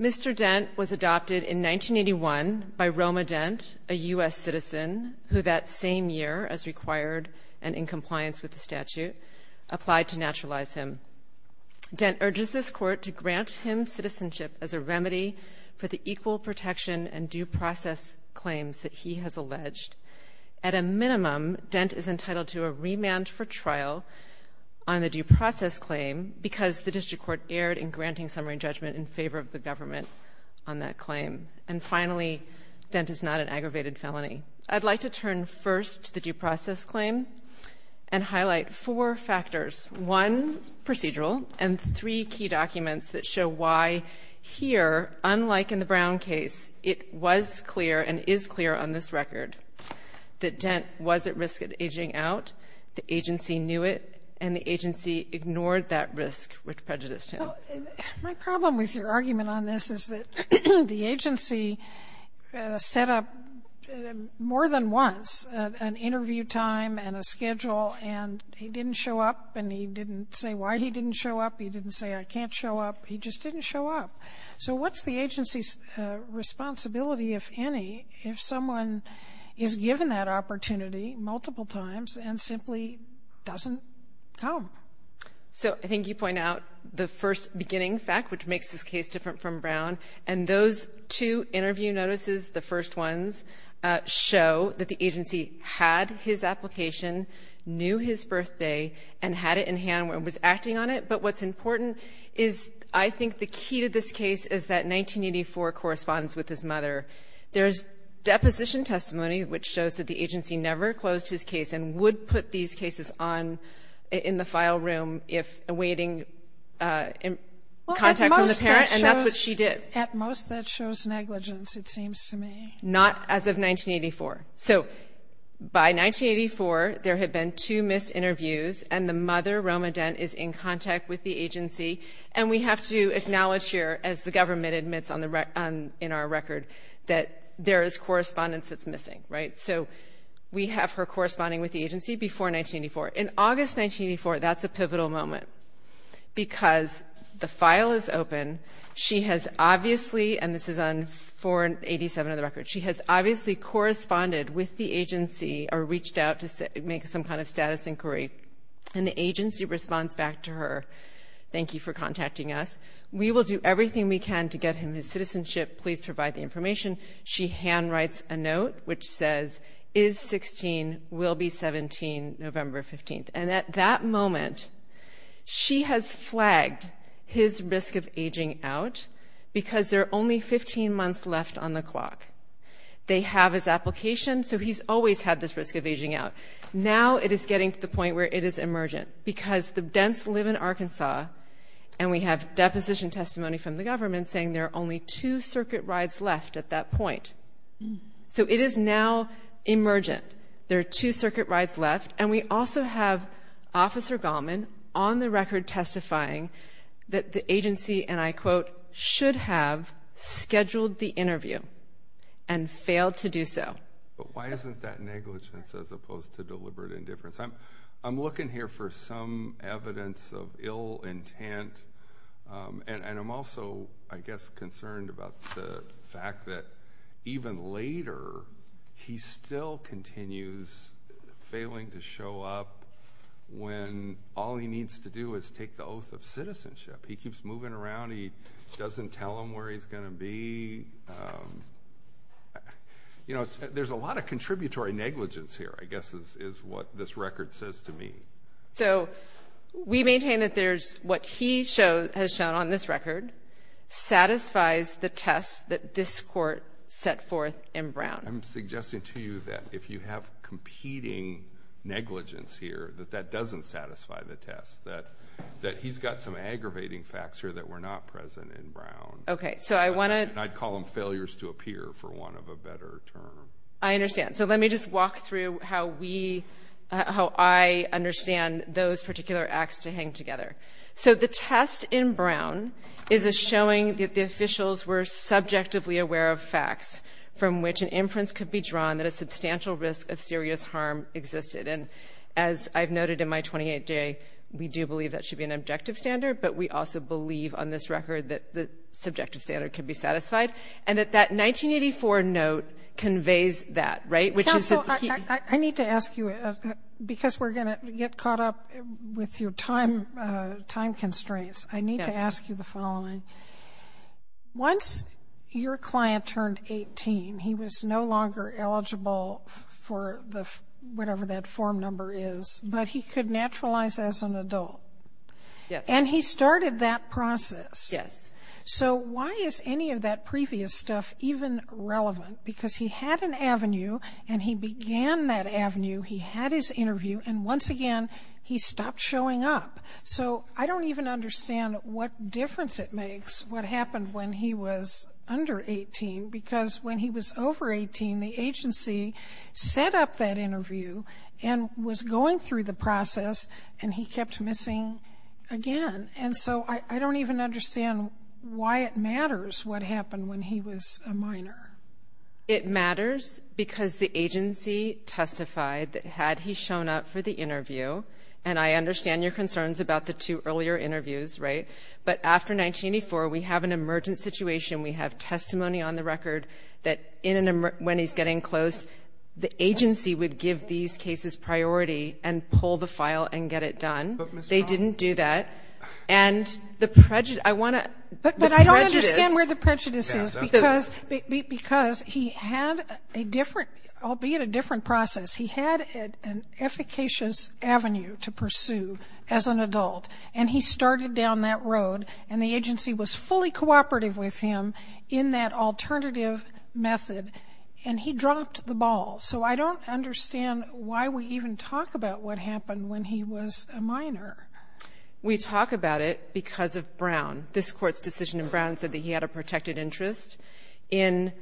Mr. Dent was adopted in 1981 by Roma Dent, a U.S. citizen, who that same year, as required and in compliance with the statute, applied to naturalize him. Dent urges this Court to grant him citizenship as a remedy for the equal protection and due process claims that he has alleged. At a minimum, Dent is entitled to a remand for trial on the due process claim because the District Court erred in granting summary judgment in favor of the government on that claim. And finally, Dent is not an aggravated felony. I'd like to turn first to the due process claim and highlight four factors. One, procedural, and three key documents that show why here, unlike in the Brown case, it was clear and is clear on this record that Dent was at risk of aging out. The agency knew it, and the agency ignored that risk, which prejudiced him. Well, my problem with your argument on this is that the agency set up more than once an interview time and a schedule, and he didn't show up, and he didn't say why he didn't show up. He didn't say, I can't show up. He just didn't show up. So what's the agency's responsibility, if any, if someone is given that opportunity multiple times and simply doesn't come? So I think you point out the first beginning fact, which makes this case different from Brown. And those two interview notices, the first ones, show that the agency had his application, knew his birthday, and had it in hand when it was acting on it. But what's important is I think the key to this case is that 1984 corresponds with his mother. There's deposition testimony which shows that the agency never closed his case and would put these cases on in the file room if awaiting contact from the parent, and that's what she did. At most, that shows negligence, it seems to me. Not as of 1984. So by 1984, there had been two missed interviews, and the mother, Roma Dent, is in contact with the agency. And we have to acknowledge here, as the government admits in our record, that there is correspondence that's missing, right? So we have her corresponding with the agency before 1984. In August 1984, that's a pivotal moment because the file is open. She has obviously, and this is on 487 of the record, she has obviously corresponded with the agency or reached out to make some kind of status inquiry. And the agency responds back to her, thank you for contacting us. We will do everything we can to get him his citizenship. Please provide the information. She handwrites a note which says, is 16, will be 17 November 15th. And at that moment, she has flagged his risk of aging out because there are only 15 months left on the clock. They have his application, so he's always had this risk of aging out. Now it is getting to the point where it is emergent because the Dents live in Arkansas, and we have deposition testimony from the government saying there are only two circuit rides left at that point. So it is now emergent. There are two circuit rides left. And we also have Officer Gallman on the record testifying that the agency, and I quote, should have scheduled the interview and failed to do so. But why isn't that negligence as opposed to deliberate indifference? I'm looking here for some evidence of ill intent, and I'm also, I guess, concerned about the fact that even later, he still continues failing to show up when all he needs to do is take the oath of citizenship. He keeps moving around. He doesn't tell them where he's going to be. You know, there's a lot of contributory negligence here, I guess, is what this record says to me. So we maintain that what he has shown on this record satisfies the test that this court set forth in Brown. I'm suggesting to you that if you have competing negligence here, that that doesn't satisfy the test, that he's got some aggravating facts here that were not present in Brown. Okay, so I want to – And I'd call them failures to appear for want of a better term. I understand. So let me just walk through how we – how I understand those particular acts to hang together. So the test in Brown is a showing that the officials were subjectively aware of facts from which an inference could be drawn that a substantial risk of serious harm existed. And as I've noted in my 28-J, we do believe that should be an objective standard, but we also believe on this record that the subjective standard could be satisfied, and that that 1984 note conveys that, right? Counsel, I need to ask you, because we're going to get caught up with your time constraints, I need to ask you the following. Once your client turned 18, he was no longer eligible for whatever that form number is, but he could naturalize as an adult. Yes. And he started that process. Yes. So why is any of that previous stuff even relevant? Because he had an avenue, and he began that avenue, he had his interview, and once again he stopped showing up. So I don't even understand what difference it makes what happened when he was under 18, because when he was over 18, the agency set up that interview and was going through the process, and he kept missing again. And so I don't even understand why it matters what happened when he was a minor. It matters because the agency testified that had he shown up for the interview, and I understand your concerns about the two earlier interviews, right? But after 1984, we have an emergent situation. We have testimony on the record that when he's getting close, the agency would give these cases priority and pull the file and get it done. But, Ms. Brown? They didn't do that. And the prejudice ‑‑I want to ‑‑ But I don't understand where the prejudice is, because he had a different, albeit a different process, he had an efficacious avenue to pursue as an adult, and he started down that road, and the agency was fully cooperative with him in that alternative method, and he dropped the ball. So I don't understand why we even talk about what happened when he was a minor. We talk about it because of Brown. This Court's decision in Brown said that he had a protected interest in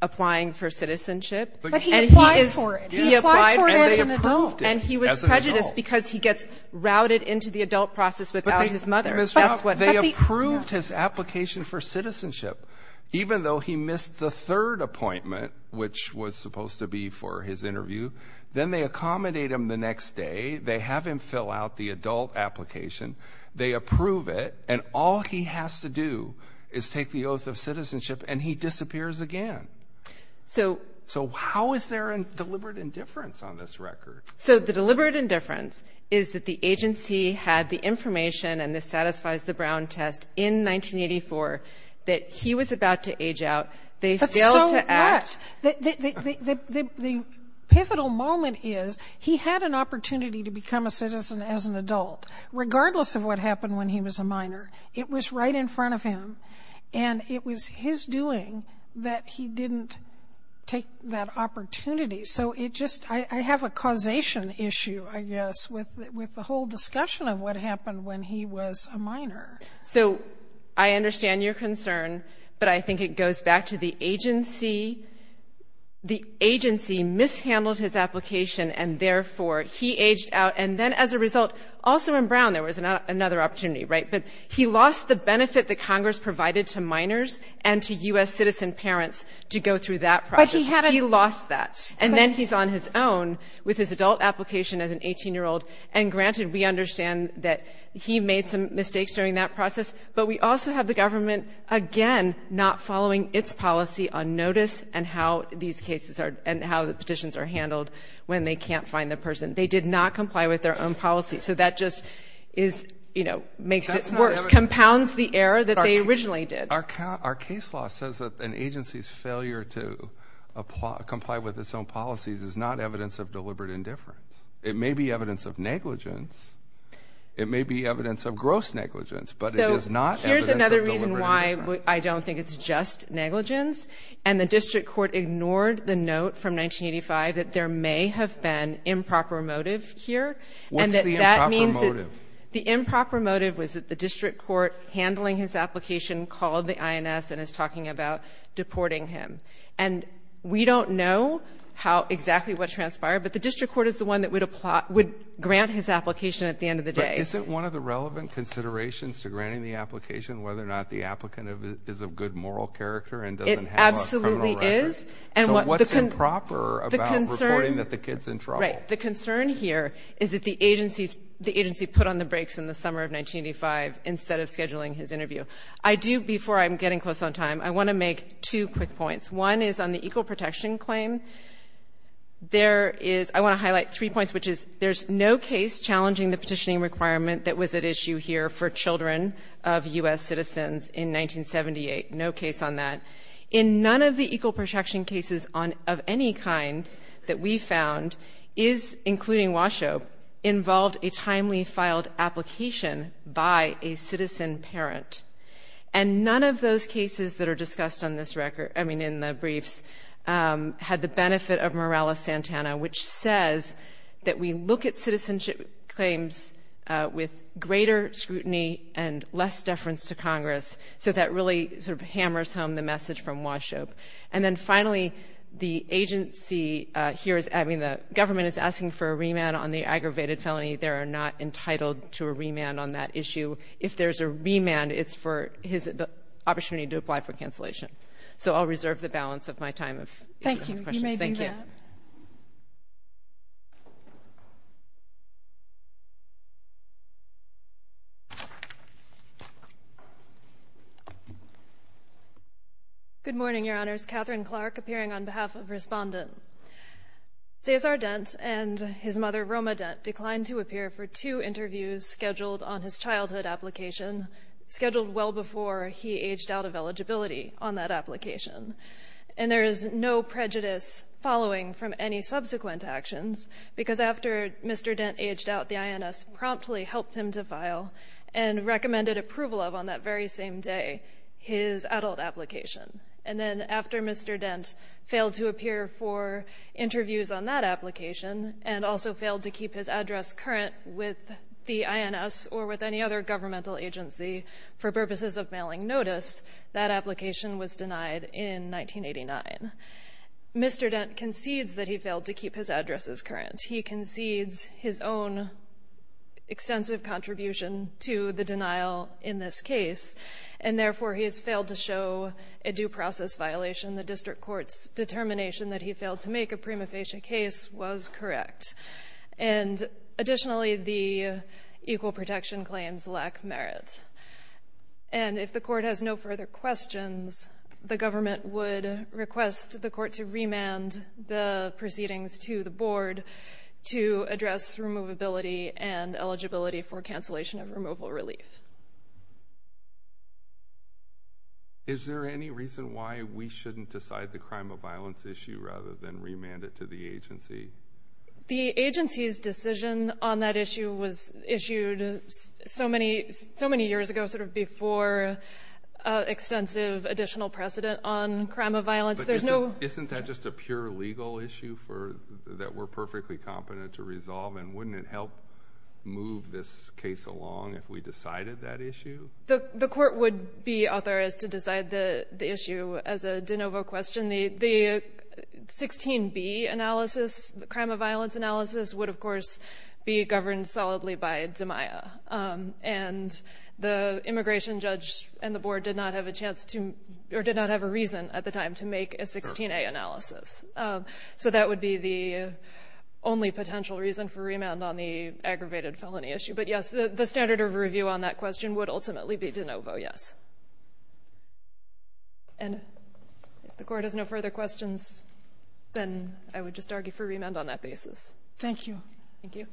applying for citizenship. But he applied for it. He applied for it as an adult. And he was prejudiced because he gets routed into the adult process without his mother. Ms. Brown, they approved his application for citizenship, even though he missed the third appointment, which was supposed to be for his interview. Then they accommodate him the next day. They have him fill out the adult application. They approve it. And all he has to do is take the oath of citizenship, and he disappears again. So how is there a deliberate indifference on this record? So the deliberate indifference is that the agency had the information, and this satisfies the Brown test, in 1984, that he was about to age out. They failed to act. The pivotal moment is he had an opportunity to become a citizen as an adult, regardless of what happened when he was a minor. It was right in front of him. And it was his doing that he didn't take that opportunity. So I have a causation issue, I guess, with the whole discussion of what happened when he was a minor. So I understand your concern, but I think it goes back to the agency. The agency mishandled his application, and therefore he aged out. And then as a result, also in Brown there was another opportunity, right? But he lost the benefit that Congress provided to minors and to U.S. citizen parents to go through that process. He lost that. And then he's on his own with his adult application as an 18-year-old. And granted, we understand that he made some mistakes during that process, but we also have the government, again, not following its policy on notice and how the petitions are handled when they can't find the person. They did not comply with their own policy. So that just makes it worse, compounds the error that they originally did. Our case law says that an agency's failure to comply with its own policies is not evidence of deliberate indifference. It may be evidence of negligence. It may be evidence of gross negligence, but it is not evidence of deliberate indifference. So here's another reason why I don't think it's just negligence. And the district court ignored the note from 1985 that there may have been improper motive here. What's the improper motive? The improper motive was that the district court handling his application called the INS and is talking about deporting him. And we don't know exactly what transpired, but the district court is the one that would grant his application at the end of the day. But isn't one of the relevant considerations to granting the application whether or not the applicant is of good moral character and doesn't have a criminal record? It absolutely is. So what's improper about reporting that the kid's in trouble? Right. The concern here is that the agency put on the brakes in the summer of 1985 instead of scheduling his interview. Before I'm getting close on time, I want to make two quick points. One is on the equal protection claim. I want to highlight three points, which is there's no case challenging the petitioning requirement that was at issue here for children of U.S. citizens in 1978. No case on that. In none of the equal protection cases of any kind that we found, including Washoe, involved a timely filed application by a citizen parent. And none of those cases that are discussed on this record, I mean in the briefs, had the benefit of Morales-Santana, which says that we look at citizenship claims with greater scrutiny and less deference to Congress. So that really sort of hammers home the message from Washoe. And then finally, the government is asking for a remand on the aggravated felony. They are not entitled to a remand on that issue. If there's a remand, it's for the opportunity to apply for cancellation. So I'll reserve the balance of my time if you have questions. Thank you. You may do that. Good morning, Your Honors. Catherine Clark appearing on behalf of Respondent. Cesar Dent and his mother, Roma Dent, declined to appear for two interviews scheduled on his childhood application, scheduled well before he aged out of eligibility on that application. And there is no prejudice following from any subsequent actions, because after Mr. Dent aged out, the INS promptly helped him to file and recommended approval of, on that very same day, his adult application. And then after Mr. Dent failed to appear for interviews on that application and also failed to keep his address current with the INS or with any other governmental agency for purposes of mailing notice, that application was denied in 1989. Mr. Dent concedes that he failed to keep his addresses current. He concedes his own extensive contribution to the denial in this case, and therefore he has failed to show a due process violation. The district court's determination that he failed to make a prima facie case was correct. And additionally, the equal protection claims lack merit. And if the court has no further questions, the government would request the court to remand the proceedings to the board to address removability and eligibility for cancellation of removal relief. Is there any reason why we shouldn't decide the crime of violence issue rather than remand it to the agency? The agency's decision on that issue was issued so many years ago, sort of before extensive additional precedent on crime of violence. Isn't that just a pure legal issue that we're perfectly competent to resolve? And wouldn't it help move this case along if we decided that issue? The court would be authorized to decide the issue. As a de novo question, the 16B analysis, the crime of violence analysis, would, of course, be governed solidly by DMIA. And the immigration judge and the board did not have a chance to or did not have a reason at the time to make a 16A analysis. So that would be the only potential reason for remand on the aggravated felony issue. But, yes, the standard of review on that question would ultimately be de novo, yes. And if the court has no further questions, then I would just argue for remand on that basis. Thank you. Thank you.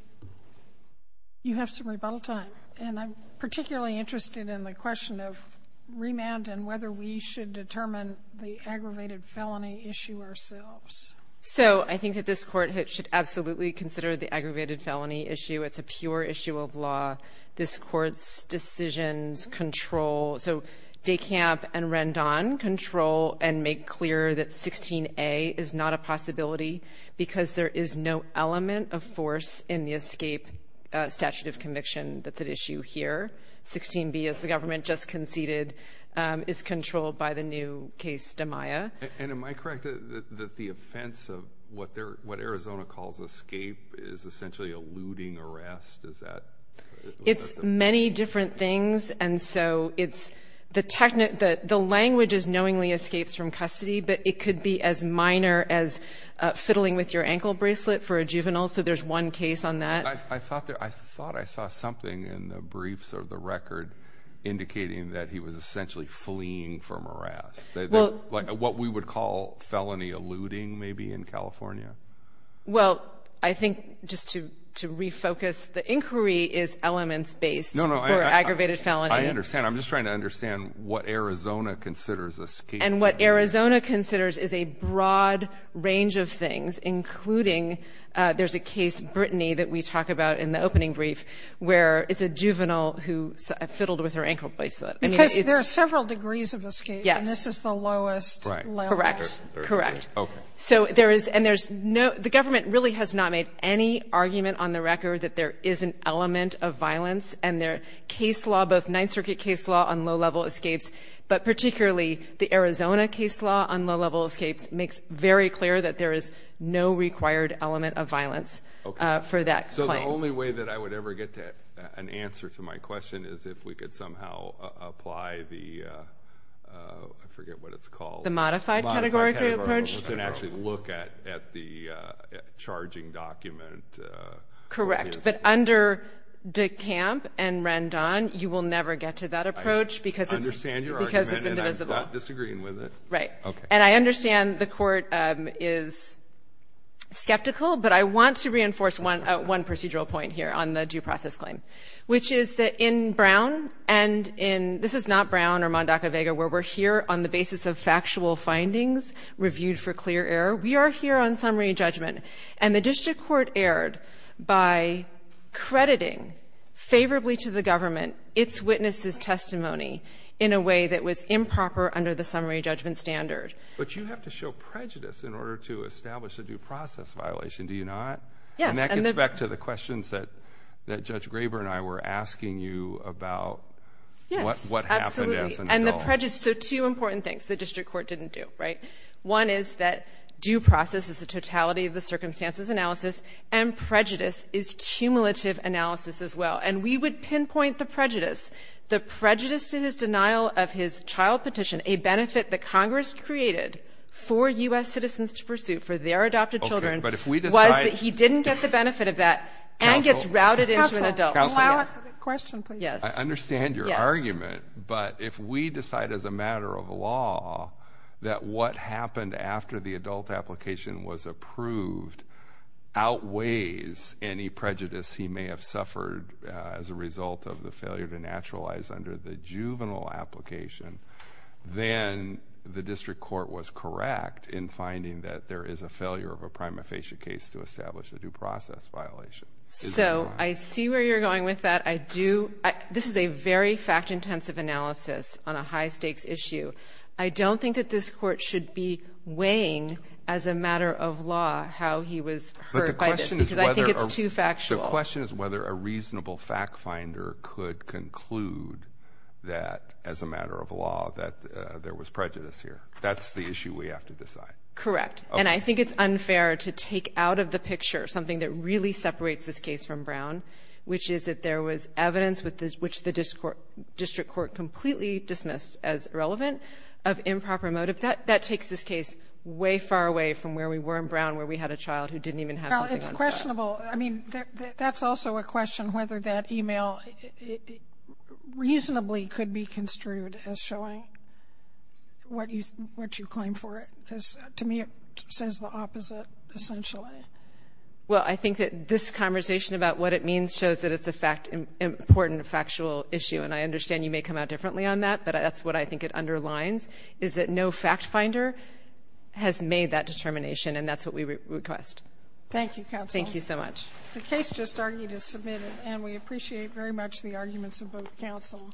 You have some rebuttal time. And I'm particularly interested in the question of remand and whether we should determine the aggravated felony issue ourselves. So I think that this court should absolutely consider the aggravated felony issue. It's a pure issue of law. This court's decisions control. So DeCamp and Rendon control and make clear that 16A is not a possibility because there is no element of force in the escape statute of conviction that's at issue here. 16B, as the government just conceded, is controlled by the new case, DMIA. And am I correct that the offense of what Arizona calls escape is essentially a looting arrest? It's many different things. And so the language is knowingly escapes from custody, but it could be as minor as fiddling with your ankle bracelet for a juvenile. So there's one case on that. I thought I saw something in the briefs or the record indicating that he was essentially fleeing for morass, like what we would call felony eluding maybe in California. Well, I think just to refocus, the inquiry is elements-based for aggravated felony. I understand. I'm just trying to understand what Arizona considers escape. And what Arizona considers is a broad range of things, including there's a case, Brittany, that we talk about in the opening brief, where it's a juvenile who fiddled with her ankle bracelet. Because there are several degrees of escape. Yes. And this is the lowest level. Correct. Correct. Okay. So there is no ‑‑ the government really has not made any argument on the record that there is an element of violence. And their case law, both Ninth Circuit case law on low-level escapes, but particularly the Arizona case law on low-level escapes, makes very clear that there is no required element of violence for that claim. Okay. So the only way that I would ever get an answer to my question is if we could somehow apply the ‑‑ I forget what it's called. The modified categorical approach. Modified categorical approach and actually look at the charging document. Correct. But under DeCamp and Rendon, you will never get to that approach because it's indivisible. I understand your argument, and I'm not disagreeing with it. Right. Okay. And I understand the Court is skeptical, but I want to reinforce one procedural point here on the due process claim, which is that in Brown and in ‑‑ this is not Brown or Mondacco-Vega, where we're here on the basis of factual findings reviewed for clear error. We are here on summary judgment. And the district court erred by crediting favorably to the government its witness's testimony in a way that was improper under the summary judgment standard. But you have to show prejudice in order to establish a due process violation, do you not? Yes. And that gets back to the questions that Judge Graber and I were asking you about what happened as an adult. Yes, absolutely. So two important things the district court didn't do, right? One is that due process is the totality of the circumstances analysis, and prejudice is cumulative analysis as well. And we would pinpoint the prejudice. The prejudice to his denial of his child petition, a benefit that Congress created for U.S. citizens to pursue for their adopted children, was that he didn't get the benefit of that and gets routed into an adult. Counsel, allow us a question, please. I understand your argument, but if we decide as a matter of law that what happened after the adult application was approved outweighs any prejudice he may have suffered as a result of the failure to naturalize under the juvenile application, then the district court was correct in finding that there is a failure of a prima facie case to establish a due process violation. So I see where you're going with that. This is a very fact-intensive analysis on a high-stakes issue. I don't think that this court should be weighing as a matter of law how he was hurt by this, because I think it's too factual. But the question is whether a reasonable fact-finder could conclude that, as a matter of law, that there was prejudice here. That's the issue we have to decide. Correct. And I think it's unfair to take out of the picture something that really separates this case from Brown, which is that there was evidence, which the district court completely dismissed as irrelevant, of improper motive. That takes this case way far away from where we were in Brown, where we had a child who didn't even have something on trial. Well, it's questionable. I mean, that's also a question whether that e-mail reasonably could be construed as showing what you claim for it, because to me it says the opposite, essentially. Well, I think that this conversation about what it means shows that it's an important factual issue, and I understand you may come out differently on that, but that's what I think it underlines, is that no fact-finder has made that determination, and that's what we request. Thank you, counsel. Thank you so much. The case just argued is submitted, and we appreciate very much the arguments of both counsel.